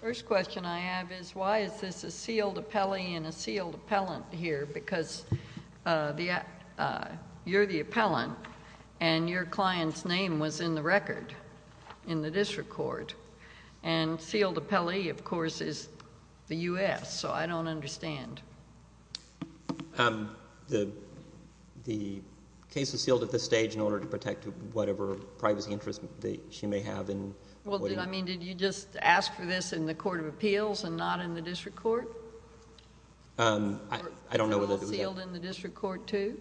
First question I have is why is this a sealed appellee and a sealed appellant here because you're the appellant and your client's name was in the record in the district court and sealed appellee of course is the U.S. so I don't understand. The case is sealed at this stage in order to protect whatever privacy interest she may have. Did you just ask for this in the court of appeals and not in the district court? I don't know. Was it all sealed in the district court too?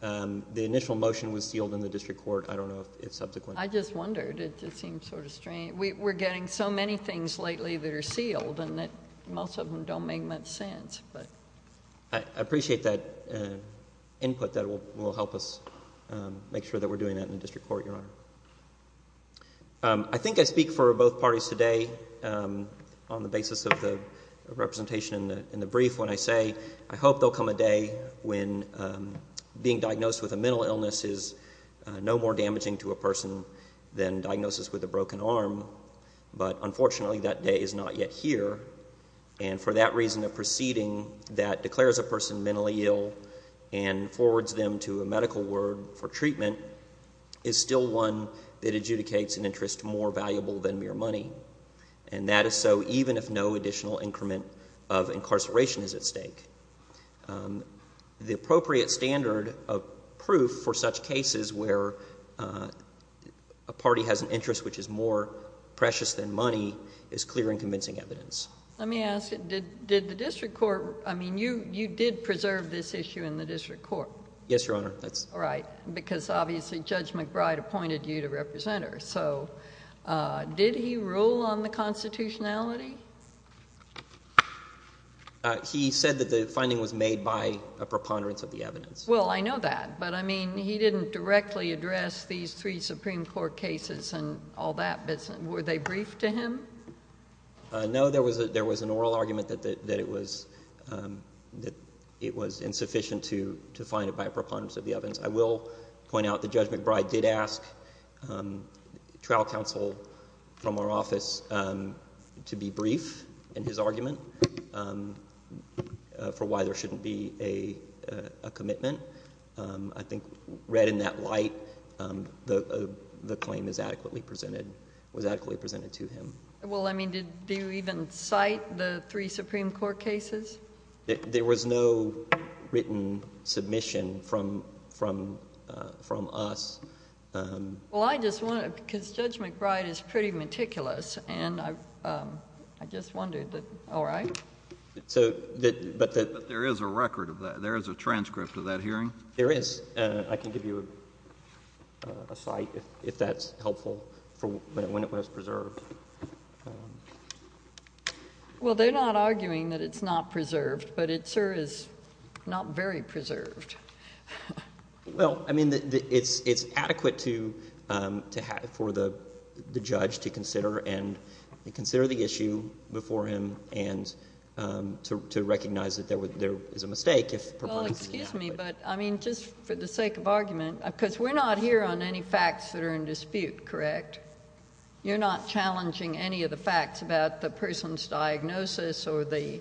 The initial motion was sealed in the district court. I don't know if subsequently. I just wondered. It seems sort of strange. We're getting so many things lately that are sealed and most of them don't make much sense. I appreciate that input that will help us make sure that we're doing that in the district court, Your Honor. I think I speak for both parties today on the basis of the representation in the brief when I say I hope there will come a day when being diagnosed with a mental illness is no more damaging to a person than diagnosis with a broken arm. But unfortunately that day is not yet here. And for that reason a proceeding that declares a person mentally ill and forwards them to a medical ward for treatment is still one that adjudicates an interest more valuable than mere money. And that is so even if no additional increment of incarceration is at stake. The appropriate standard of proof for such cases where a party has an interest which is more precious than money is clear and convincing evidence. Let me ask you, did the district court, I mean you did preserve this issue in the district court? Yes, Your Honor. Right, because obviously Judge McBride appointed you to represent her. So did he rule on the constitutionality? He said that the finding was made by a preponderance of the evidence. Well, I know that, but I mean he didn't directly address these three Supreme Court cases and all that. Were they briefed to him? No, there was an oral argument that it was insufficient to find it by a preponderance of the evidence. I will point out that Judge McBride did ask trial counsel from our office to be brief in his argument for why there shouldn't be a commitment. I think read in that light, the claim was adequately presented to him. Well, I mean did you even cite the three Supreme Court cases? There was no written submission from us. Well, I just want to, because Judge McBride is pretty meticulous and I just wondered that, all right. But there is a record of that. There is a transcript of that hearing. There is. I can give you a cite if that's helpful when it was preserved. Well, they're not arguing that it's not preserved, but it, sir, is not very preserved. Well, I mean it's adequate for the judge to consider and consider the issue before him and to recognize that there is a mistake if preponderance is inadequate. Well, excuse me, but I mean just for the sake of argument, because we're not here on any facts that are in dispute, correct? You're not challenging any of the facts about the person's diagnosis or the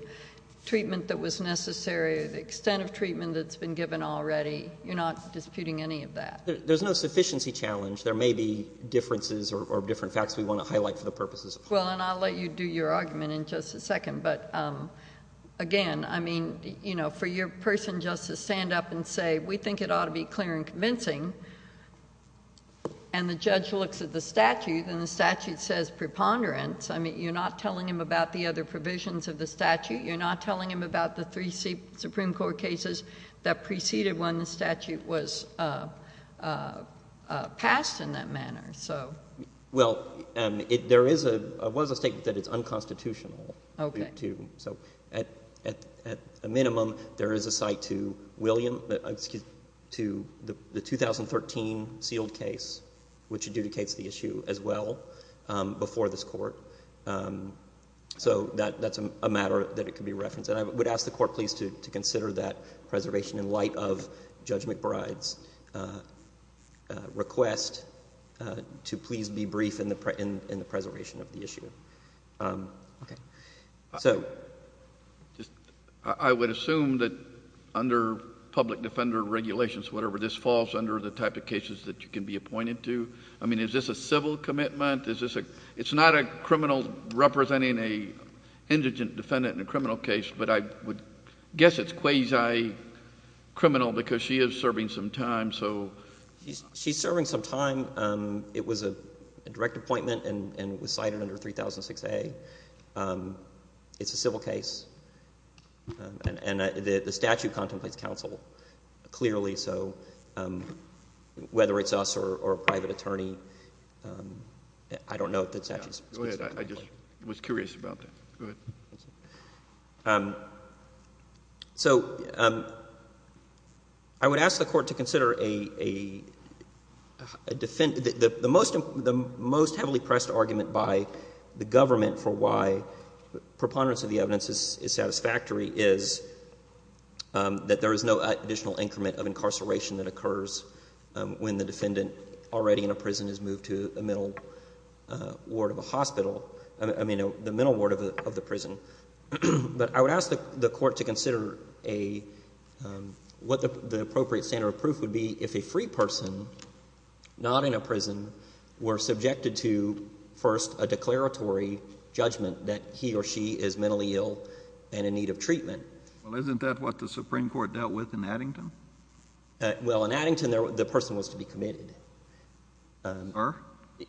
treatment that was necessary, the extent of treatment that's been given already? You're not disputing any of that? There's no sufficiency challenge. There may be differences or different facts we want to highlight for the purposes of court. Well, and I'll let you do your argument in just a second, but again, I mean, you know, for your person just to stand up and say we think it ought to be clear and convincing and the judge looks at the statute and the statute says preponderance. I mean, you're not telling him about the other provisions of the statute. You're not telling him about the three Supreme Court cases that preceded when the statute was passed in that manner. Well, there was a statement that it's unconstitutional. Okay. So at a minimum, there is a cite to the 2013 sealed case, which adjudicates the issue as well, before this court. So that's a matter that could be referenced. And I would ask the court please to consider that preservation in light of Judge McBride's request to please be brief in the preservation of the issue. Okay. So... I would assume that under public defender regulations, whatever, this falls under the type of cases that you can be appointed to. I mean, is this a civil commitment? Is this a... it's not a criminal representing an indigent defendant in a criminal case, but I would guess it's quasi-criminal because she is serving some time, so... She's serving some time. It was a direct appointment and was cited under 3006A. It's a civil case. And the statute contemplates counsel clearly, so whether it's us or a private attorney, I don't know if the statute... Go ahead. I just was curious about that. Go ahead. So I would ask the court to consider a defendant. The most heavily pressed argument by the government for why preponderance of the evidence is satisfactory is that there is no additional increment of incarceration that occurs when the defendant already in a prison is moved to a mental ward of a hospital. I mean, the mental ward of the prison. But I would ask the court to consider a — what the appropriate standard of proof would be if a free person, not in a prison, were subjected to, first, a declaratory judgment that he or she is mentally ill and in need of treatment. Well, isn't that what the Supreme Court dealt with in Addington? Well, in Addington, the person was to be committed. Or?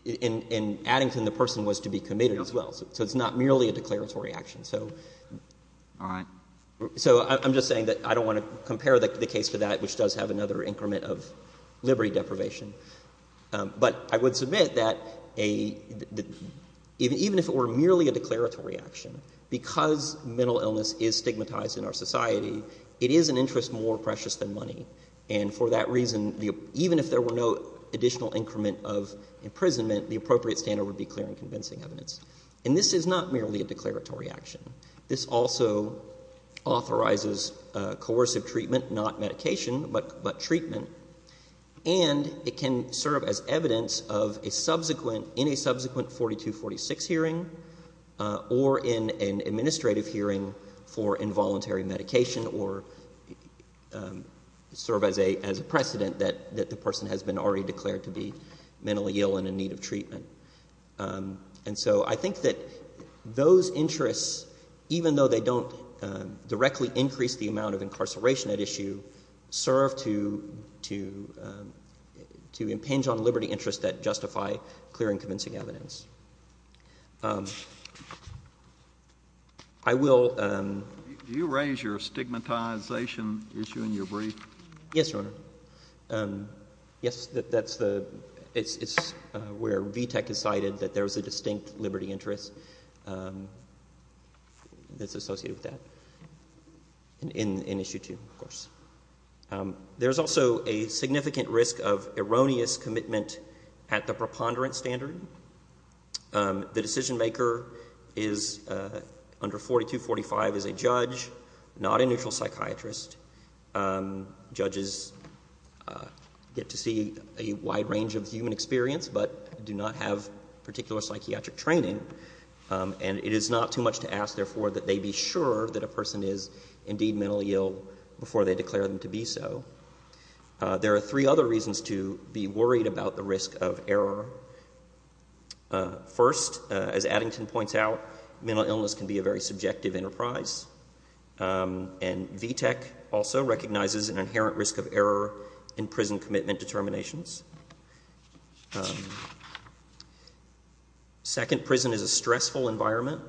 In Addington, the person was to be committed as well. So it's not merely a declaratory action. So... All right. So I'm just saying that I don't want to compare the case to that, which does have another increment of liberty deprivation. But I would submit that even if it were merely a declaratory action, because mental illness is stigmatized in our society, it is an interest more precious than money. And for that reason, even if there were no additional increment of imprisonment, the appropriate standard would be clear and convincing evidence. And this is not merely a declaratory action. This also authorizes coercive treatment, not medication, but treatment. And it can serve as evidence of a subsequent — in a subsequent 4246 hearing or in an precedent that the person has been already declared to be mentally ill and in need of treatment. And so I think that those interests, even though they don't directly increase the amount of incarceration at issue, serve to impinge on liberty interests that justify clear and convincing evidence. I will... Yes, Your Honor. Yes, that's the — it's where VTAC has cited that there's a distinct liberty interest that's associated with that in issue 2, of course. There's also a significant risk of erroneous commitment at the preponderance standard. The decisionmaker is under 4245 is a judge, not a neutral psychiatrist. Judges get to see a wide range of human experience, but do not have particular psychiatric training. And it is not too much to ask, therefore, that they be sure that a person is indeed mentally ill before they declare them to be so. There are three other reasons to be worried about the risk of error. First, as Addington points out, mental illness can be a very subjective enterprise. And VTAC also recognizes an inherent risk of error in prison commitment determinations. Second, prison is a stressful environment.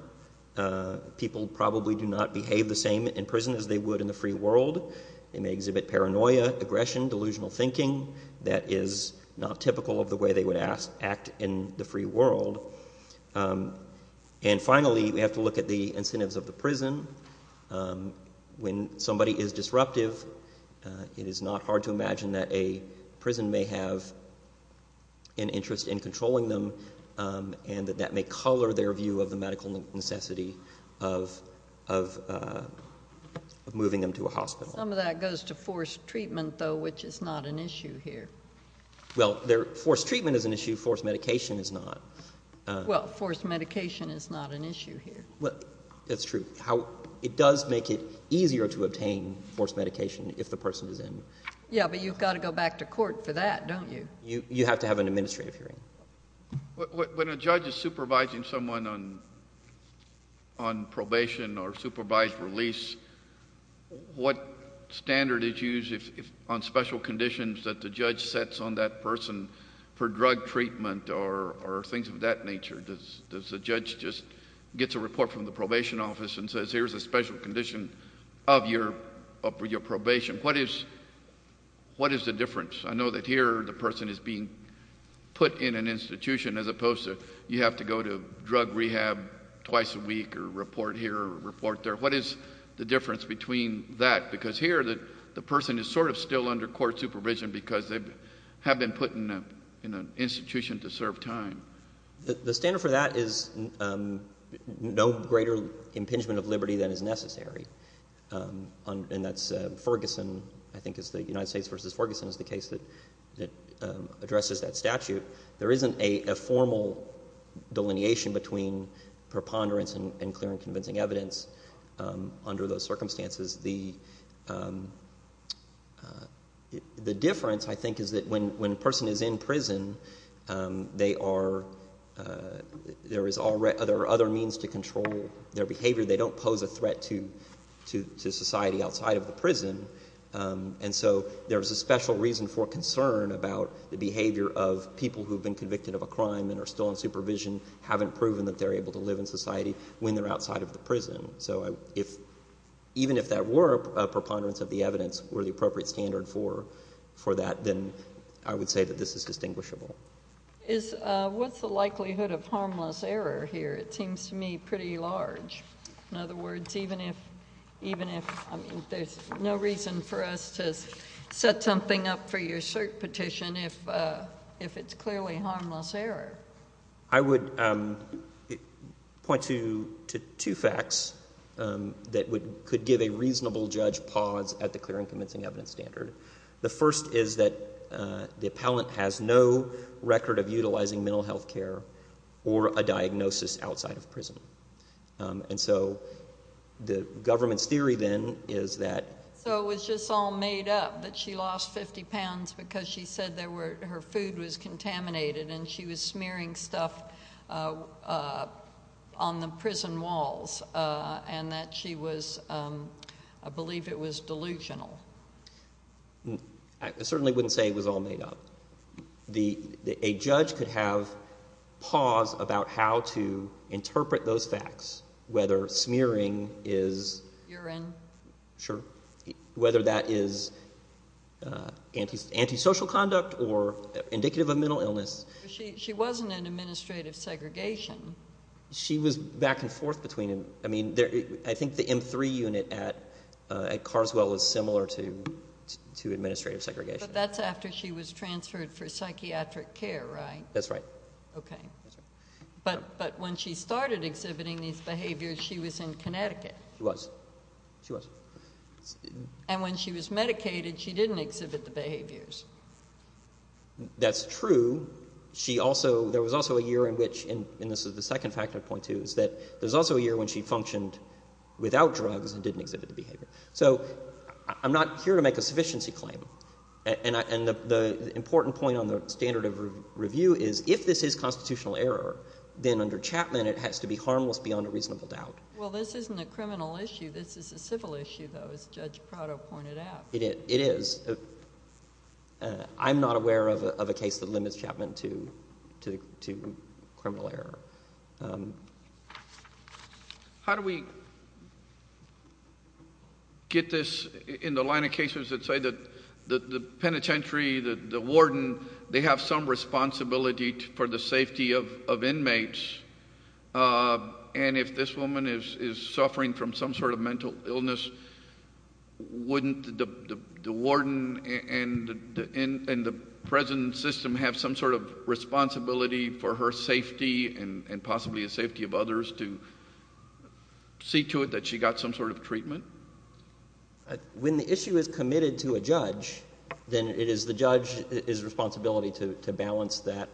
People probably do not behave the same in prison as they would in the free world. They may exhibit paranoia, aggression, delusional thinking that is not typical of the way they would act in the free world. And finally, we have to look at the incentives of the prison. When somebody is disruptive, it is not hard to imagine that a prison may have an interest in controlling them and that that may color their view of the medical necessity of moving them to a hospital. Some of that goes to forced treatment, though, which is not an issue here. Well, forced treatment is an issue. Forced medication is not. Well, forced medication is not an issue here. That's true. It does make it easier to obtain forced medication if the person is in. Yeah, but you've got to go back to court for that, don't you? You have to have an administrative hearing. When a judge is supervising someone on probation or supervised release, what standard is used on special conditions that the judge sets on that person for drug treatment or things of that nature? Does the judge just get a report from the probation office and says, here's a special condition of your probation? What is the difference? I know that here the person is being put in an institution as opposed to you have to go to drug rehab twice a week or report here or report there. What is the difference between that? Because here the person is sort of still under court supervision because they have been put in an institution to serve time. The standard for that is no greater impingement of liberty than is necessary. And that's Ferguson, I think it's the United States v. Ferguson is the case that addresses that statute. There isn't a formal delineation between preponderance and clear and convincing evidence under those circumstances. The difference, I think, is that when a person is in prison, there are other means to control their behavior. They don't pose a threat to society outside of the prison. And so there is a special reason for concern about the behavior of people who have been convicted of a crime and are still on supervision, haven't proven that they're able to live in society when they're outside of the prison. So even if that were a preponderance of the evidence or the appropriate standard for that, then I would say that this is distinguishable. What's the likelihood of harmless error here? It seems to me pretty large. In other words, even if there's no reason for us to set something up for your cert petition if it's clearly harmless error. I would point to two facts that could give a reasonable judge pause at the clear and convincing evidence standard. The first is that the appellant has no record of utilizing mental health care or a diagnosis outside of prison. And so the government's theory then is that. So it was just all made up that she lost 50 pounds because she said her food was contaminated and she was smearing stuff on the prison walls and that she was, I believe it was delusional. I certainly wouldn't say it was all made up. A judge could have pause about how to interpret those facts, whether smearing is. Urine. She wasn't in administrative segregation. She was back and forth between them. I mean, I think the M3 unit at Carswell was similar to administrative segregation. But that's after she was transferred for psychiatric care, right? That's right. Okay. But when she started exhibiting these behaviors, she was in Connecticut. She was. She was. And when she was medicated, she didn't exhibit the behaviors. That's true. She also, there was also a year in which, and this is the second fact I point to, is that there's also a year when she functioned without drugs and didn't exhibit the behavior. So I'm not here to make a sufficiency claim. And the important point on the standard of review is if this is constitutional error, then under Chapman it has to be harmless beyond a reasonable doubt. Well, this isn't a criminal issue. This is a civil issue, though, as Judge Prado pointed out. It is. I'm not aware of a case that limits Chapman to criminal error. How do we get this in the line of cases that say that the penitentiary, the warden, they have some responsibility for the safety of inmates, and if this woman is suffering from some sort of mental illness, wouldn't the warden and the present system have some sort of responsibility for her safety and possibly the safety of others to see to it that she got some sort of treatment? When the issue is committed to a judge, then it is the judge's responsibility to balance that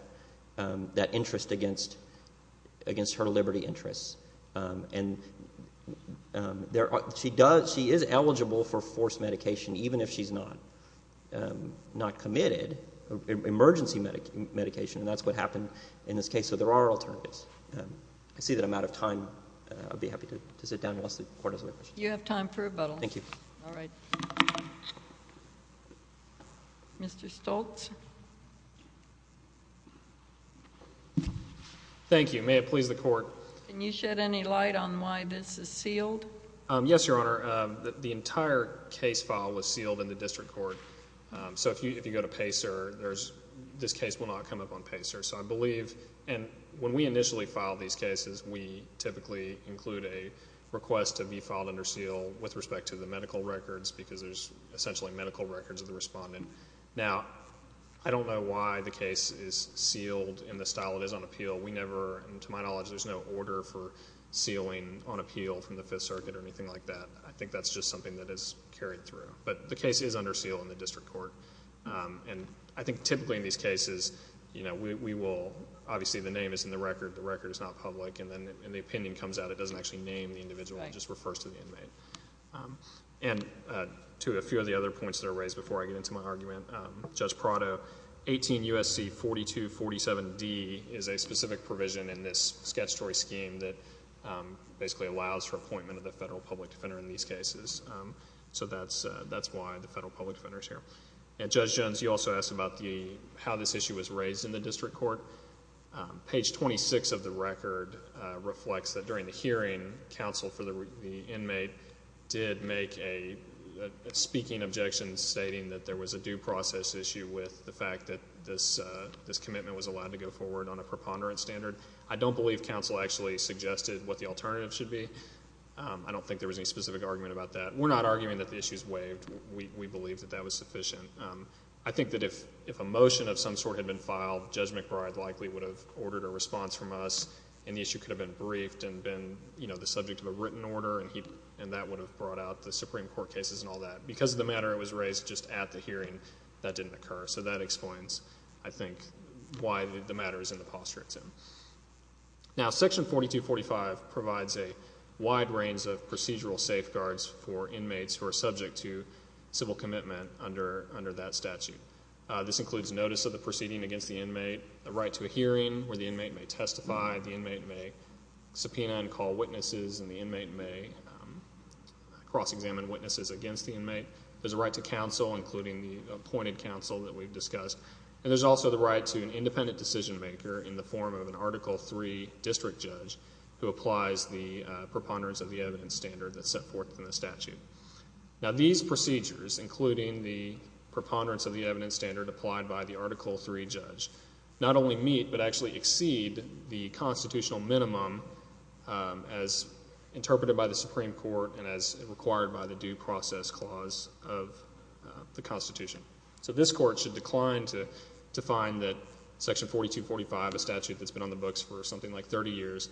interest against her liberty interests. And she is eligible for forced medication even if she's not committed, emergency medication, and that's what happened in this case. So there are alternatives. I see that I'm out of time. I'd be happy to sit down unless the Court has other questions. You have time for rebuttals. Thank you. All right. Mr. Stoltz. Thank you. May it please the Court. Can you shed any light on why this is sealed? Yes, Your Honor. The entire case file was sealed in the district court. So if you go to PACER, this case will not come up on PACER. So I believe, and when we initially file these cases, we typically include a request to be filed under seal with respect to the medical records because there's essentially medical records of the respondent. Now, I don't know why the case is sealed in the style it is on appeal. We never, and to my knowledge, there's no order for sealing on appeal from the Fifth Circuit or anything like that. I think that's just something that is carried through. But the case is under seal in the district court. And I think typically in these cases, you know, we will, obviously the name is in the record, the record is not public, and then the opinion comes out. It doesn't actually name the individual. It just refers to the inmate. And to a few of the other points that are raised before I get into my argument, Judge Prado, 18 U.S.C. 4247D is a specific provision in this statutory scheme that basically allows for appointment of the federal public defender in these cases. So that's why the federal public defender is here. And Judge Jones, you also asked about the, how this issue was raised in the district court. Page 26 of the record reflects that during the hearing, counsel for the inmate did make a speaking objection stating that there was a due process issue with the fact that this commitment was allowed to go forward on a preponderance standard. I don't believe counsel actually suggested what the alternative should be. I don't think there was any specific argument about that. We're not arguing that the issue is waived. We believe that that was sufficient. I think that if a motion of some sort had been filed, Judge McBride likely would have ordered a response from us, and the issue could have been briefed and been, you know, the subject of a written order, and that would have brought out the Supreme Court cases and all that. But because of the matter that was raised just at the hearing, that didn't occur. So that explains, I think, why the matter is in the posture it's in. Now, Section 4245 provides a wide range of procedural safeguards for inmates who are subject to civil commitment under that statute. This includes notice of the proceeding against the inmate, a right to a hearing where the inmate may testify, the inmate may subpoena and call witnesses, and the inmate may cross-examine witnesses against the inmate. There's a right to counsel, including the appointed counsel that we've discussed. And there's also the right to an independent decision maker in the form of an Article III district judge who applies the preponderance of the evidence standard that's set forth in the statute. Now, these procedures, including the preponderance of the evidence standard applied by the Article III judge, not only meet but actually exceed the constitutional minimum as interpreted by the Supreme Court and as required by the Due Process Clause of the Constitution. So this Court should decline to find that Section 4245, a statute that's been on the books for something like 30 years,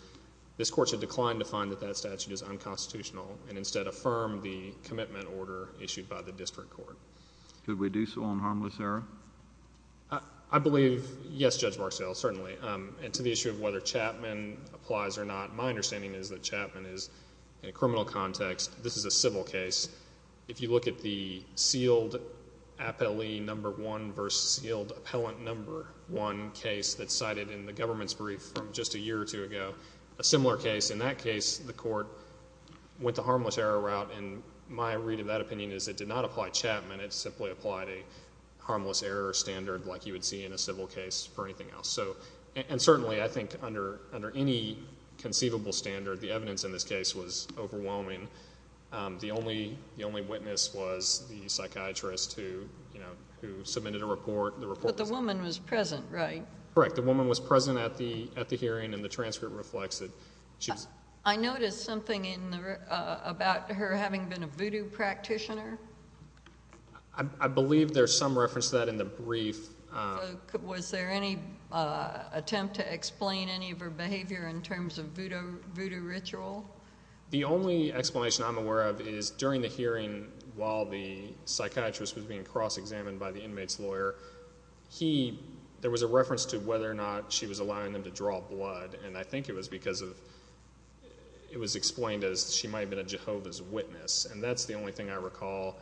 this Court should decline to find that that statute is unconstitutional and instead affirm the commitment order issued by the district court. Could we do so on harmless error? I believe, yes, Judge Marksdale, certainly. And to the issue of whether Chapman applies or not, my understanding is that Chapman is in a criminal context. This is a civil case. If you look at the sealed appellee No. 1 versus sealed appellant No. 1 case that's cited in the government's brief from just a year or two ago, a similar case. In that case, the Court went the harmless error route, and my read of that opinion is it did not apply Chapman. It simply applied a harmless error standard like you would see in a civil case for anything else. And certainly I think under any conceivable standard, the evidence in this case was overwhelming. The only witness was the psychiatrist who submitted a report. But the woman was present, right? Correct. The woman was present at the hearing, and the transcript reflects it. I noticed something about her having been a voodoo practitioner. I believe there's some reference to that in the brief. Was there any attempt to explain any of her behavior in terms of voodoo ritual? The only explanation I'm aware of is during the hearing, while the psychiatrist was being cross-examined by the inmate's lawyer, there was a reference to whether or not she was allowing them to draw blood. And I think it was because it was explained as she might have been a Jehovah's Witness. And that's the only thing I recall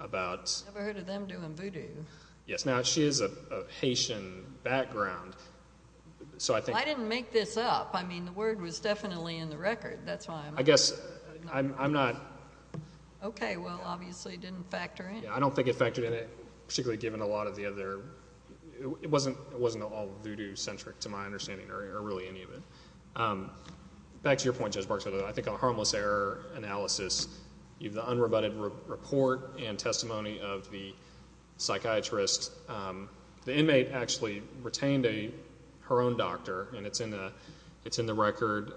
about. I've never heard of them doing voodoo. Yes. Now, she has a Haitian background. I didn't make this up. I mean, the word was definitely in the record. That's why I'm not sure. I guess I'm not. Okay. Well, obviously it didn't factor in. I don't think it factored in, particularly given a lot of the other. It wasn't all voodoo-centric to my understanding, or really any of it. Back to your point, Judge Barksdale, I think on harmless error analysis, you have the unrebutted report and testimony of the psychiatrist. The inmate actually retained her own doctor, and it's in the record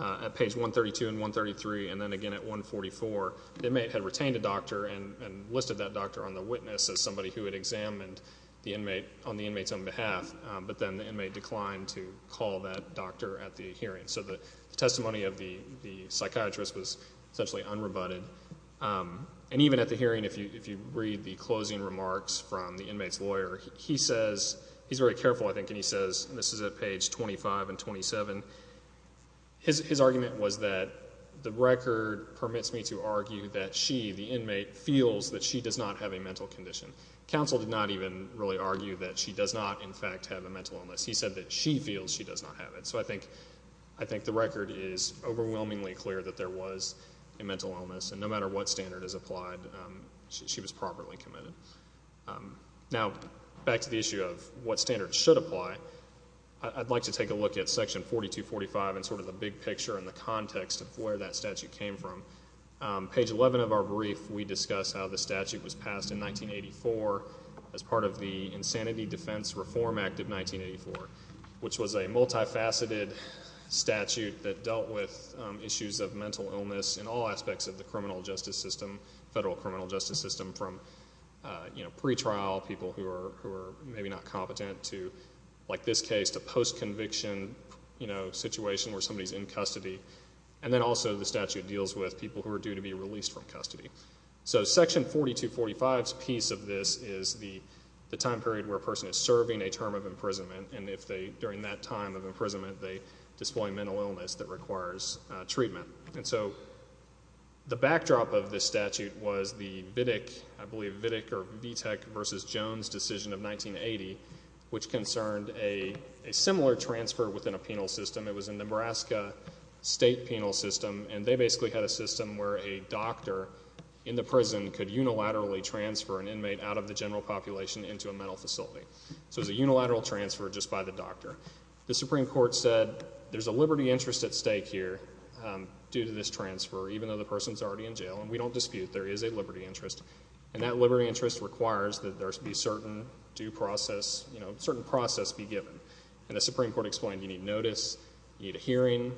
at page 132 and 133, and then again at 144. The inmate had retained a doctor and listed that doctor on the witness as somebody who had examined the inmate on the inmate's own behalf, but then the inmate declined to call that doctor at the hearing. So the testimony of the psychiatrist was essentially unrebutted. And even at the hearing, if you read the closing remarks from the inmate's lawyer, he's very careful, I think, and he says, and this is at page 25 and 27, his argument was that the record permits me to argue that she, the inmate, feels that she does not have a mental condition. Counsel did not even really argue that she does not, in fact, have a mental illness. He said that she feels she does not have it. So I think the record is overwhelmingly clear that there was a mental illness, and no matter what standard is applied, she was properly committed. Now, back to the issue of what standards should apply, I'd like to take a look at section 4245 and sort of the big picture and the context of where that statute came from. Page 11 of our brief, we discuss how the statute was passed in 1984 as part of the Insanity Defense Reform Act of 1984, which was a multifaceted statute that dealt with issues of mental illness in all aspects of the criminal justice system, federal criminal justice system, from pre-trial people who are maybe not competent to, like this case, to post-conviction situation where somebody's in custody. And then also the statute deals with people who are due to be released from custody. So section 4245's piece of this is the time period where a person is serving a term of imprisonment and if they, during that time of imprisonment, they display mental illness that requires treatment. And so the backdrop of this statute was the Vidick, I believe, Vidick or Vitek v. Jones decision of 1980, which concerned a similar transfer within a penal system. It was a Nebraska state penal system, and they basically had a system where a doctor in the prison could unilaterally transfer an inmate out of the general population into a mental facility. So it was a unilateral transfer just by the doctor. The Supreme Court said there's a liberty interest at stake here due to this transfer, even though the person's already in jail, and we don't dispute there is a liberty interest. And that liberty interest requires that there should be a certain due process, a certain process be given. And the Supreme Court explained you need notice, you need a hearing,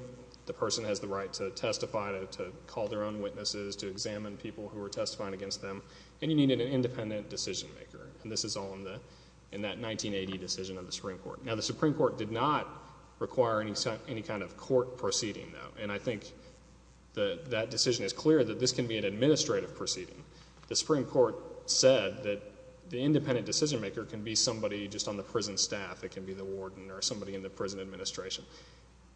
the person has the right to testify, to call their own witnesses, to examine people who are testifying against them, and you need an independent decision maker. And this is all in that 1980 decision of the Supreme Court. Now, the Supreme Court did not require any kind of court proceeding, though, and I think that decision is clear that this can be an administrative proceeding. The Supreme Court said that the independent decision maker can be somebody just on the prison staff. It can be the warden or somebody in the prison administration.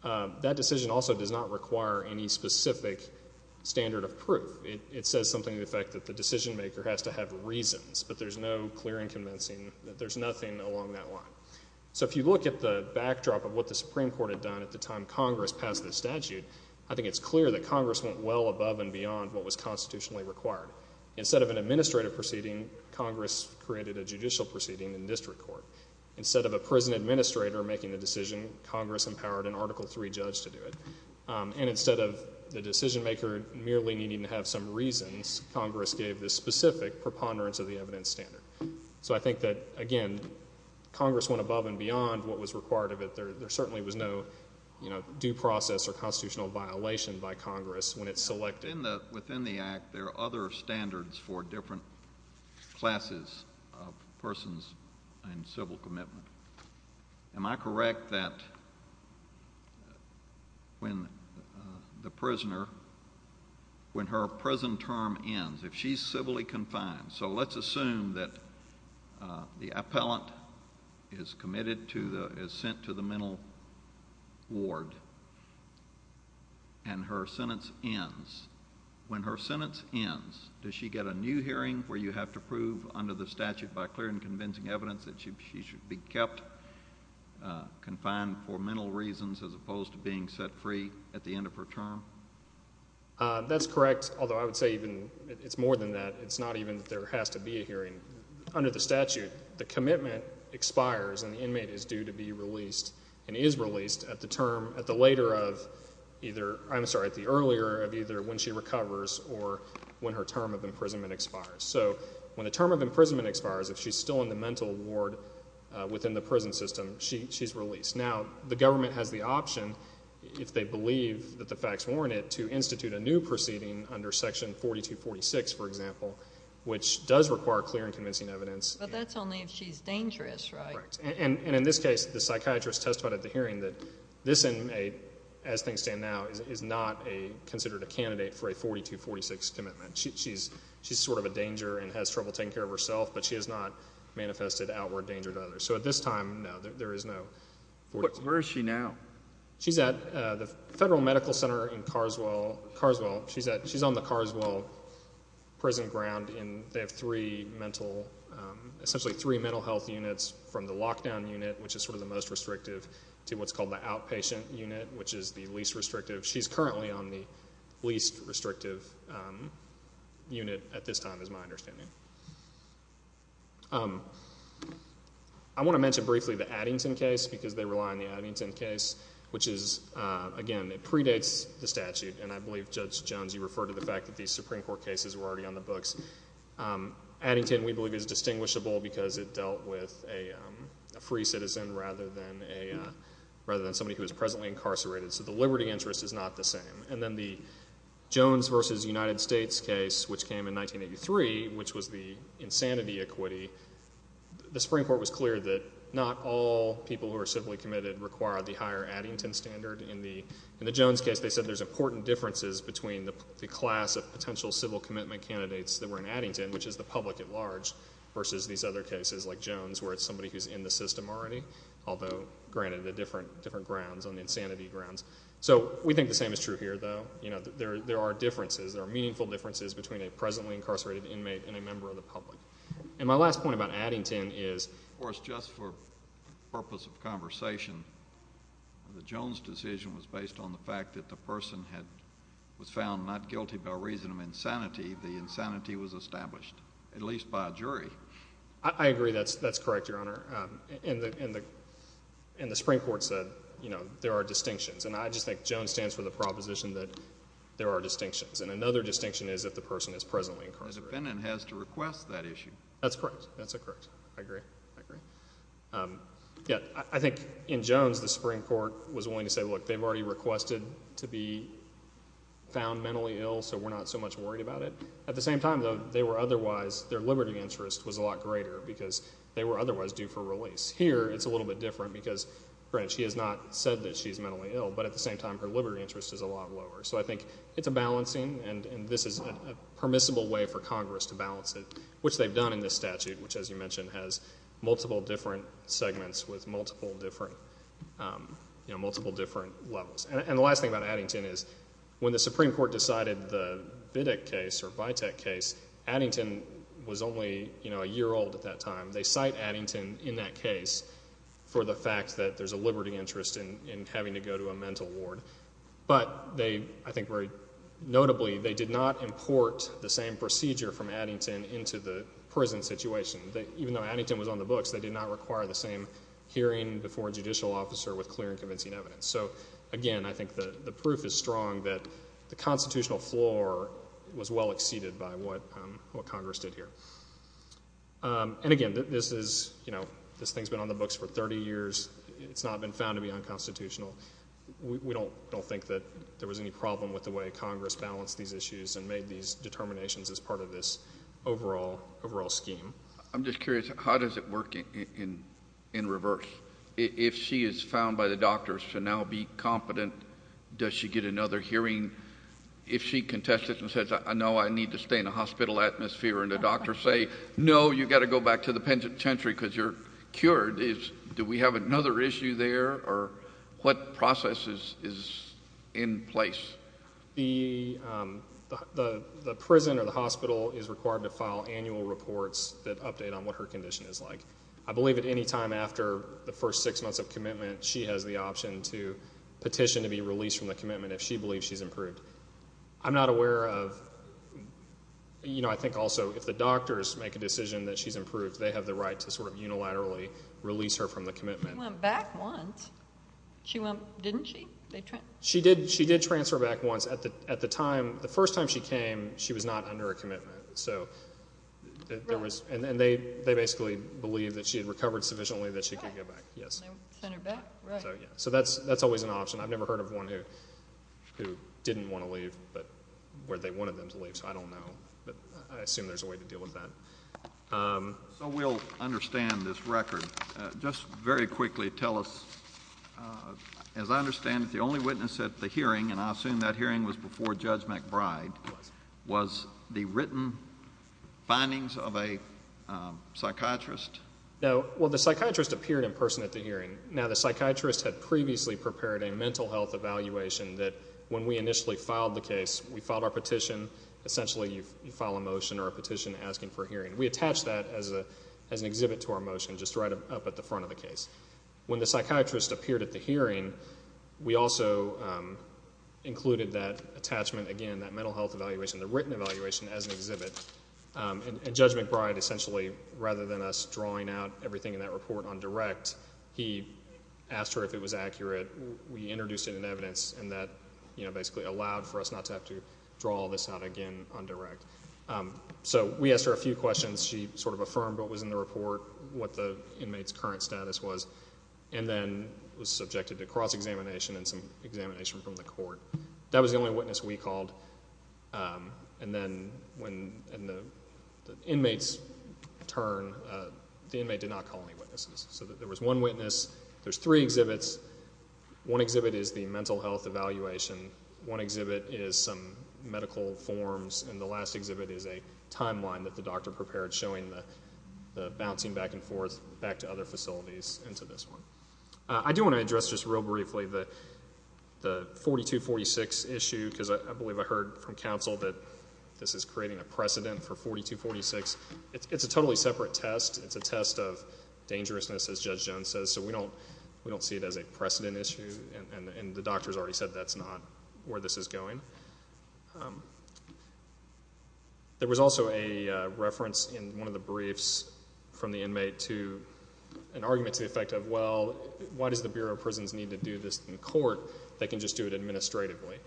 That decision also does not require any specific standard of proof. It says something to the effect that the decision maker has to have reasons, but there's no clear and convincing, there's nothing along that line. So if you look at the backdrop of what the Supreme Court had done at the time Congress passed the statute, I think it's clear that Congress went well above and beyond what was constitutionally required. Instead of an administrative proceeding, Congress created a judicial proceeding in district court. Instead of a prison administrator making the decision, Congress empowered an Article III judge to do it. And instead of the decision maker merely needing to have some reasons, Congress gave this specific preponderance of the evidence standard. So I think that, again, Congress went above and beyond what was required of it. There certainly was no due process or constitutional violation by Congress when it selected it. Within the Act there are other standards for different classes of persons and civil commitment. Am I correct that when the prisoner, when her prison term ends, if she's civilly confined, so let's assume that the appellant is committed to the, is sent to the mental ward and her sentence ends. When her sentence ends, does she get a new hearing where you have to prove under the statute by clear and convincing evidence that she should be kept confined for mental reasons as opposed to being set free at the end of her term? That's correct, although I would say it's more than that. It's not even that there has to be a hearing. Under the statute, the commitment expires and the inmate is due to be released and is released at the later of either, I'm sorry, at the earlier of either when she recovers or when her term of imprisonment expires. So when the term of imprisonment expires, if she's still in the mental ward within the prison system, she's released. Now, the government has the option, if they believe that the facts warrant it, to institute a new proceeding under section 4246, for example, which does require clear and convincing evidence. But that's only if she's dangerous, right? Correct, and in this case, the psychiatrist testified at the hearing that this inmate, as things stand now, is not considered a candidate for a 4246 commitment. She's sort of a danger and has trouble taking care of herself, but she has not manifested outward danger to others. So at this time, no, there is no 4246. Where is she now? She's at the Federal Medical Center in Carswell. She's on the Carswell prison ground, and they have essentially three mental health units, from the lockdown unit, which is sort of the most restrictive, to what's called the outpatient unit, which is the least restrictive. I want to mention briefly the Addington case, because they rely on the Addington case, which is, again, it predates the statute, and I believe, Judge Jones, you referred to the fact that these Supreme Court cases were already on the books. Addington, we believe, is distinguishable because it dealt with a free citizen rather than somebody who is presently incarcerated. So the liberty interest is not the same. And then the Jones v. United States case, which came in 1983, which was the insanity equity, the Supreme Court was clear that not all people who are civilly committed require the higher Addington standard. In the Jones case, they said there's important differences between the class of potential civil commitment candidates that were in Addington, which is the public at large, versus these other cases, like Jones, where it's somebody who's in the system already, although granted on different grounds, on insanity grounds. So we think the same is true here, though. There are differences, there are meaningful differences between a presently incarcerated inmate and a member of the public. And my last point about Addington is... Of course, just for purpose of conversation, the Jones decision was based on the fact that the person was found not guilty by reason of insanity. The insanity was established, at least by a jury. I agree that's correct, Your Honor. And the Supreme Court said, you know, there are distinctions. And I just think Jones stands for the proposition that there are distinctions. And another distinction is if the person is presently incarcerated. The defendant has to request that issue. That's correct. That's correct. I agree. I agree. Yeah, I think in Jones, the Supreme Court was willing to say, look, they've already requested to be found mentally ill, so we're not so much worried about it. At the same time, though, they were otherwise, their liberty interest was a lot greater, because they were otherwise due for release. Here, it's a little bit different, because granted, she has not said that she's mentally ill, but at the same time, her liberty interest is a lot lower. So I think it's a balancing, and this is a permissible way for Congress to balance it, which they've done in this statute, which, as you mentioned, has multiple different segments with multiple different levels. And the last thing about Addington is, when the Supreme Court decided the Vidic case, or Vitek case, Addington was only a year old at that time. They cite Addington in that case for the fact that there's a liberty interest in having to go to a mental ward. But they, I think very notably, they did not import the same procedure from Addington into the prison situation. Even though Addington was on the books, they did not require the same hearing before a judicial officer with clear and convincing evidence. So again, I think the proof is strong that the constitutional floor was well exceeded by what Congress did here. And again, this thing's been on the books for 30 years. It's not been found to be unconstitutional. We don't think that there was any problem with the way Congress balanced these issues and made these determinations as part of this overall scheme. I'm just curious, how does it work in reverse? If she is found by the doctors to now be competent, does she get another hearing? If she contests it and says, no, I need to stay in a hospital atmosphere, and the doctors say, no, you've got to go back to the penitentiary because you're cured, do we have another issue there, or what process is in place? The prison or the hospital is required to file annual reports that update on what her condition is like. I believe at any time after the first six months of commitment, she has the option to petition to be released from the commitment if she believes she's improved. I'm not aware of, you know, I think also if the doctors make a decision that she's improved, they have the right to sort of unilaterally release her from the commitment. She went back once. Didn't she? She did transfer back once. At the time, the first time she came, she was not under a commitment. And they basically believed that she had recovered sufficiently that she could go back, yes. So that's always an option. I've never heard of one who didn't want to leave but where they wanted them to leave, so I don't know. But I assume there's a way to deal with that. So we'll understand this record. Just very quickly tell us, as I understand it, the only witness at the hearing, and I assume that hearing was before Judge McBride, was the written findings of a psychiatrist? No. Well, the psychiatrist appeared in person at the hearing. Now, the psychiatrist had previously prepared a mental health evaluation that when we initially filed the case, we filed our petition. Essentially, you file a motion or a petition asking for a hearing. We attached that as an exhibit to our motion just right up at the front of the case. When the psychiatrist appeared at the hearing, we also included that attachment again, that mental health evaluation, the written evaluation, as an exhibit. And Judge McBride essentially, rather than us drawing out everything in that report on direct, he asked her if it was accurate. We introduced it in evidence and that basically allowed for us not to have to draw all this out again on direct. So we asked her a few questions. She sort of affirmed what was in the report, what the inmate's current status was, and then was subjected to cross-examination and some examination from the court. That was the only witness we called. And then in the inmate's turn, the inmate did not call any witnesses. So there was one witness. There's three exhibits. One exhibit is the mental health evaluation. One exhibit is some medical forms, and the last exhibit is a timeline that the doctor prepared showing the bouncing back and forth back to other facilities into this one. I do want to address just real briefly the 4246 issue because I believe I heard from counsel that this is creating a precedent for 4246. It's a totally separate test. It's a test of dangerousness, as Judge Jones says, so we don't see it as a precedent issue, and the doctor has already said that's not where this is going. There was also a reference in one of the briefs from the inmate to an argument to the effect of, well, why does the Bureau of Prisons need to do this in court? They can just do it administratively.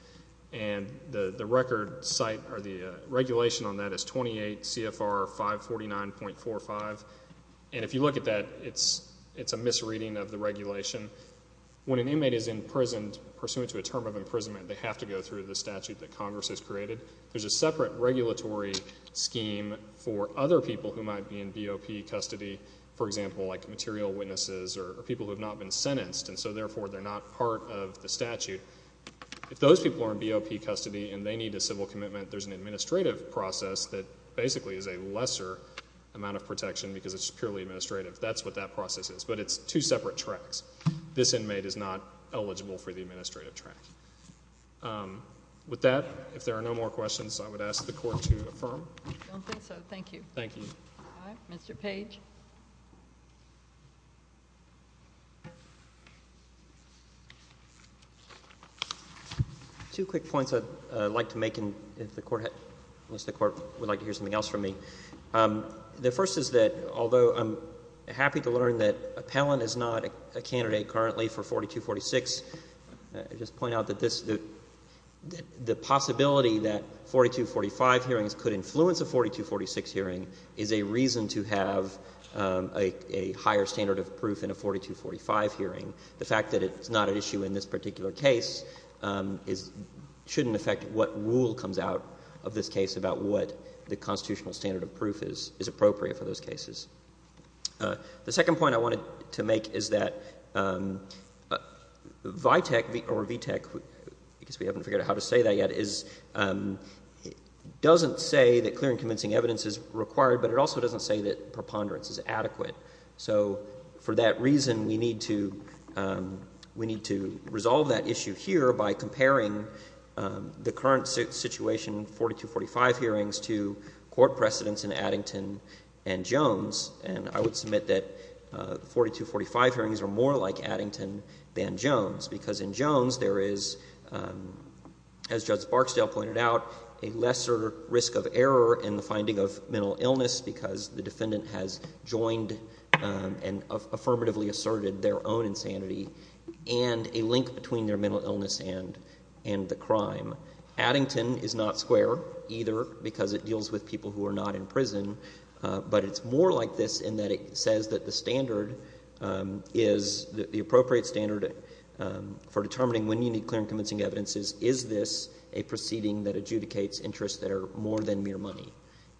And the record site or the regulation on that is 28 CFR 549.45, and if you look at that, it's a misreading of the regulation. When an inmate is imprisoned, pursuant to a term of imprisonment, they have to go through the statute that Congress has created. There's a separate regulatory scheme for other people who might be in BOP custody, for example, like material witnesses or people who have not been sentenced, and so therefore they're not part of the statute. If those people are in BOP custody and they need a civil commitment, there's an administrative process that basically is a lesser amount of protection because it's purely administrative. That's what that process is. But it's two separate tracks. This inmate is not eligible for the administrative track. With that, if there are no more questions, I would ask the Court to affirm. I don't think so. Thank you. Thank you. Mr. Page. Two quick points I'd like to make, unless the Court would like to hear something else from me. The first is that although I'm happy to learn that Appellant is not a candidate currently for 4246, I'd just point out that this — the possibility that 4245 hearings could influence a 4246 hearing is a reason to have a higher standard of proof in a 4245 hearing. The fact that it's not an issue in this particular case shouldn't affect what rule comes out of this case about what the constitutional standard of proof is appropriate for those cases. The second point I wanted to make is that VITEC or VTEC, I guess we haven't figured out how to say that yet, doesn't say that clear and convincing evidence is required, but it also doesn't say that preponderance is adequate. So for that reason, we need to resolve that issue here by comparing the current situation, 4245 hearings, to court precedents in Addington and Jones. And I would submit that 4245 hearings are more like Addington than Jones, because in Jones there is, as Judge Barksdale pointed out, a lesser risk of error in the finding of mental illness because the defendant has joined and affirmatively asserted their own insanity, and a link between their mental illness and the crime. Addington is not square either because it deals with people who are not in prison, but it's more like this in that it says that the standard is the appropriate standard for determining when you need clear and convincing evidence is, is this a proceeding that adjudicates interests that are more than mere money?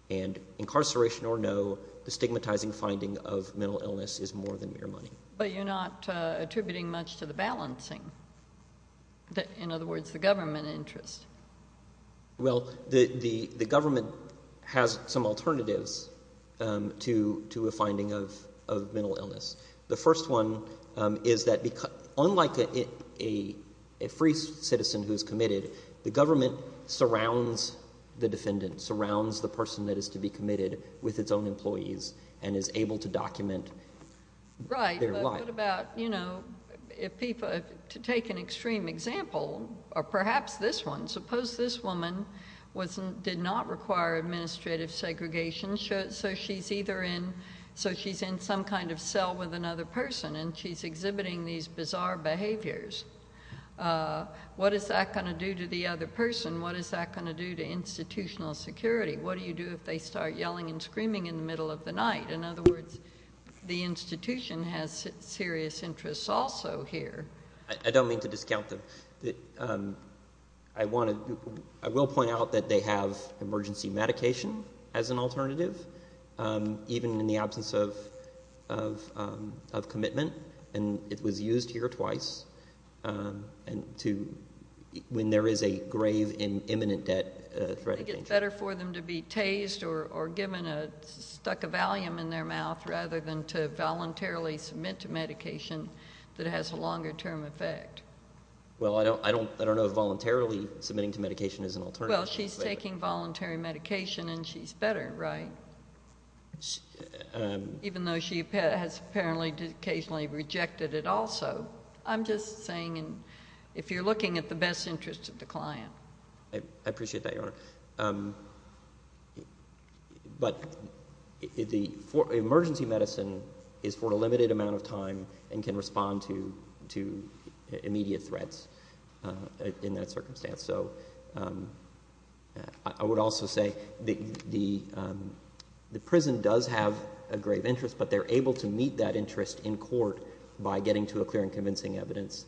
And incarceration or no, the stigmatizing finding of mental illness is more than mere money. But you're not attributing much to the balancing. In other words, the government interest. Well, the government has some alternatives to a finding of mental illness. The first one is that unlike a free citizen who is committed, the government surrounds the defendant, surrounds the person that is to be committed with its own employees, and is able to document their life. What about, you know, if people, to take an extreme example, or perhaps this one, suppose this woman did not require administrative segregation, so she's either in, so she's in some kind of cell with another person, and she's exhibiting these bizarre behaviors. What is that going to do to the other person? What is that going to do to institutional security? What do you do if they start yelling and screaming in the middle of the night? In other words, the institution has serious interests also here. I don't mean to discount them. I will point out that they have emergency medication as an alternative, even in the absence of commitment, and it was used here twice when there is a grave and imminent threat. I think it's better for them to be tased or given a stuccovalium in their mouth rather than to voluntarily submit to medication that has a longer-term effect. Well, I don't know if voluntarily submitting to medication is an alternative. Well, she's taking voluntary medication, and she's better, right? Even though she has apparently occasionally rejected it also. I'm just saying if you're looking at the best interests of the client. I appreciate that, Your Honor. But the emergency medicine is for a limited amount of time and can respond to immediate threats in that circumstance. So I would also say the prison does have a grave interest, but they're able to meet that interest in court by getting to a clear and convincing evidence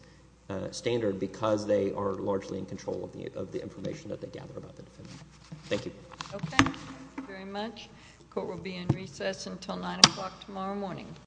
standard because they are largely in control of the information that they gather about the defendant. Thank you. Okay. Thank you very much. The court will be in recess until 9 o'clock tomorrow morning.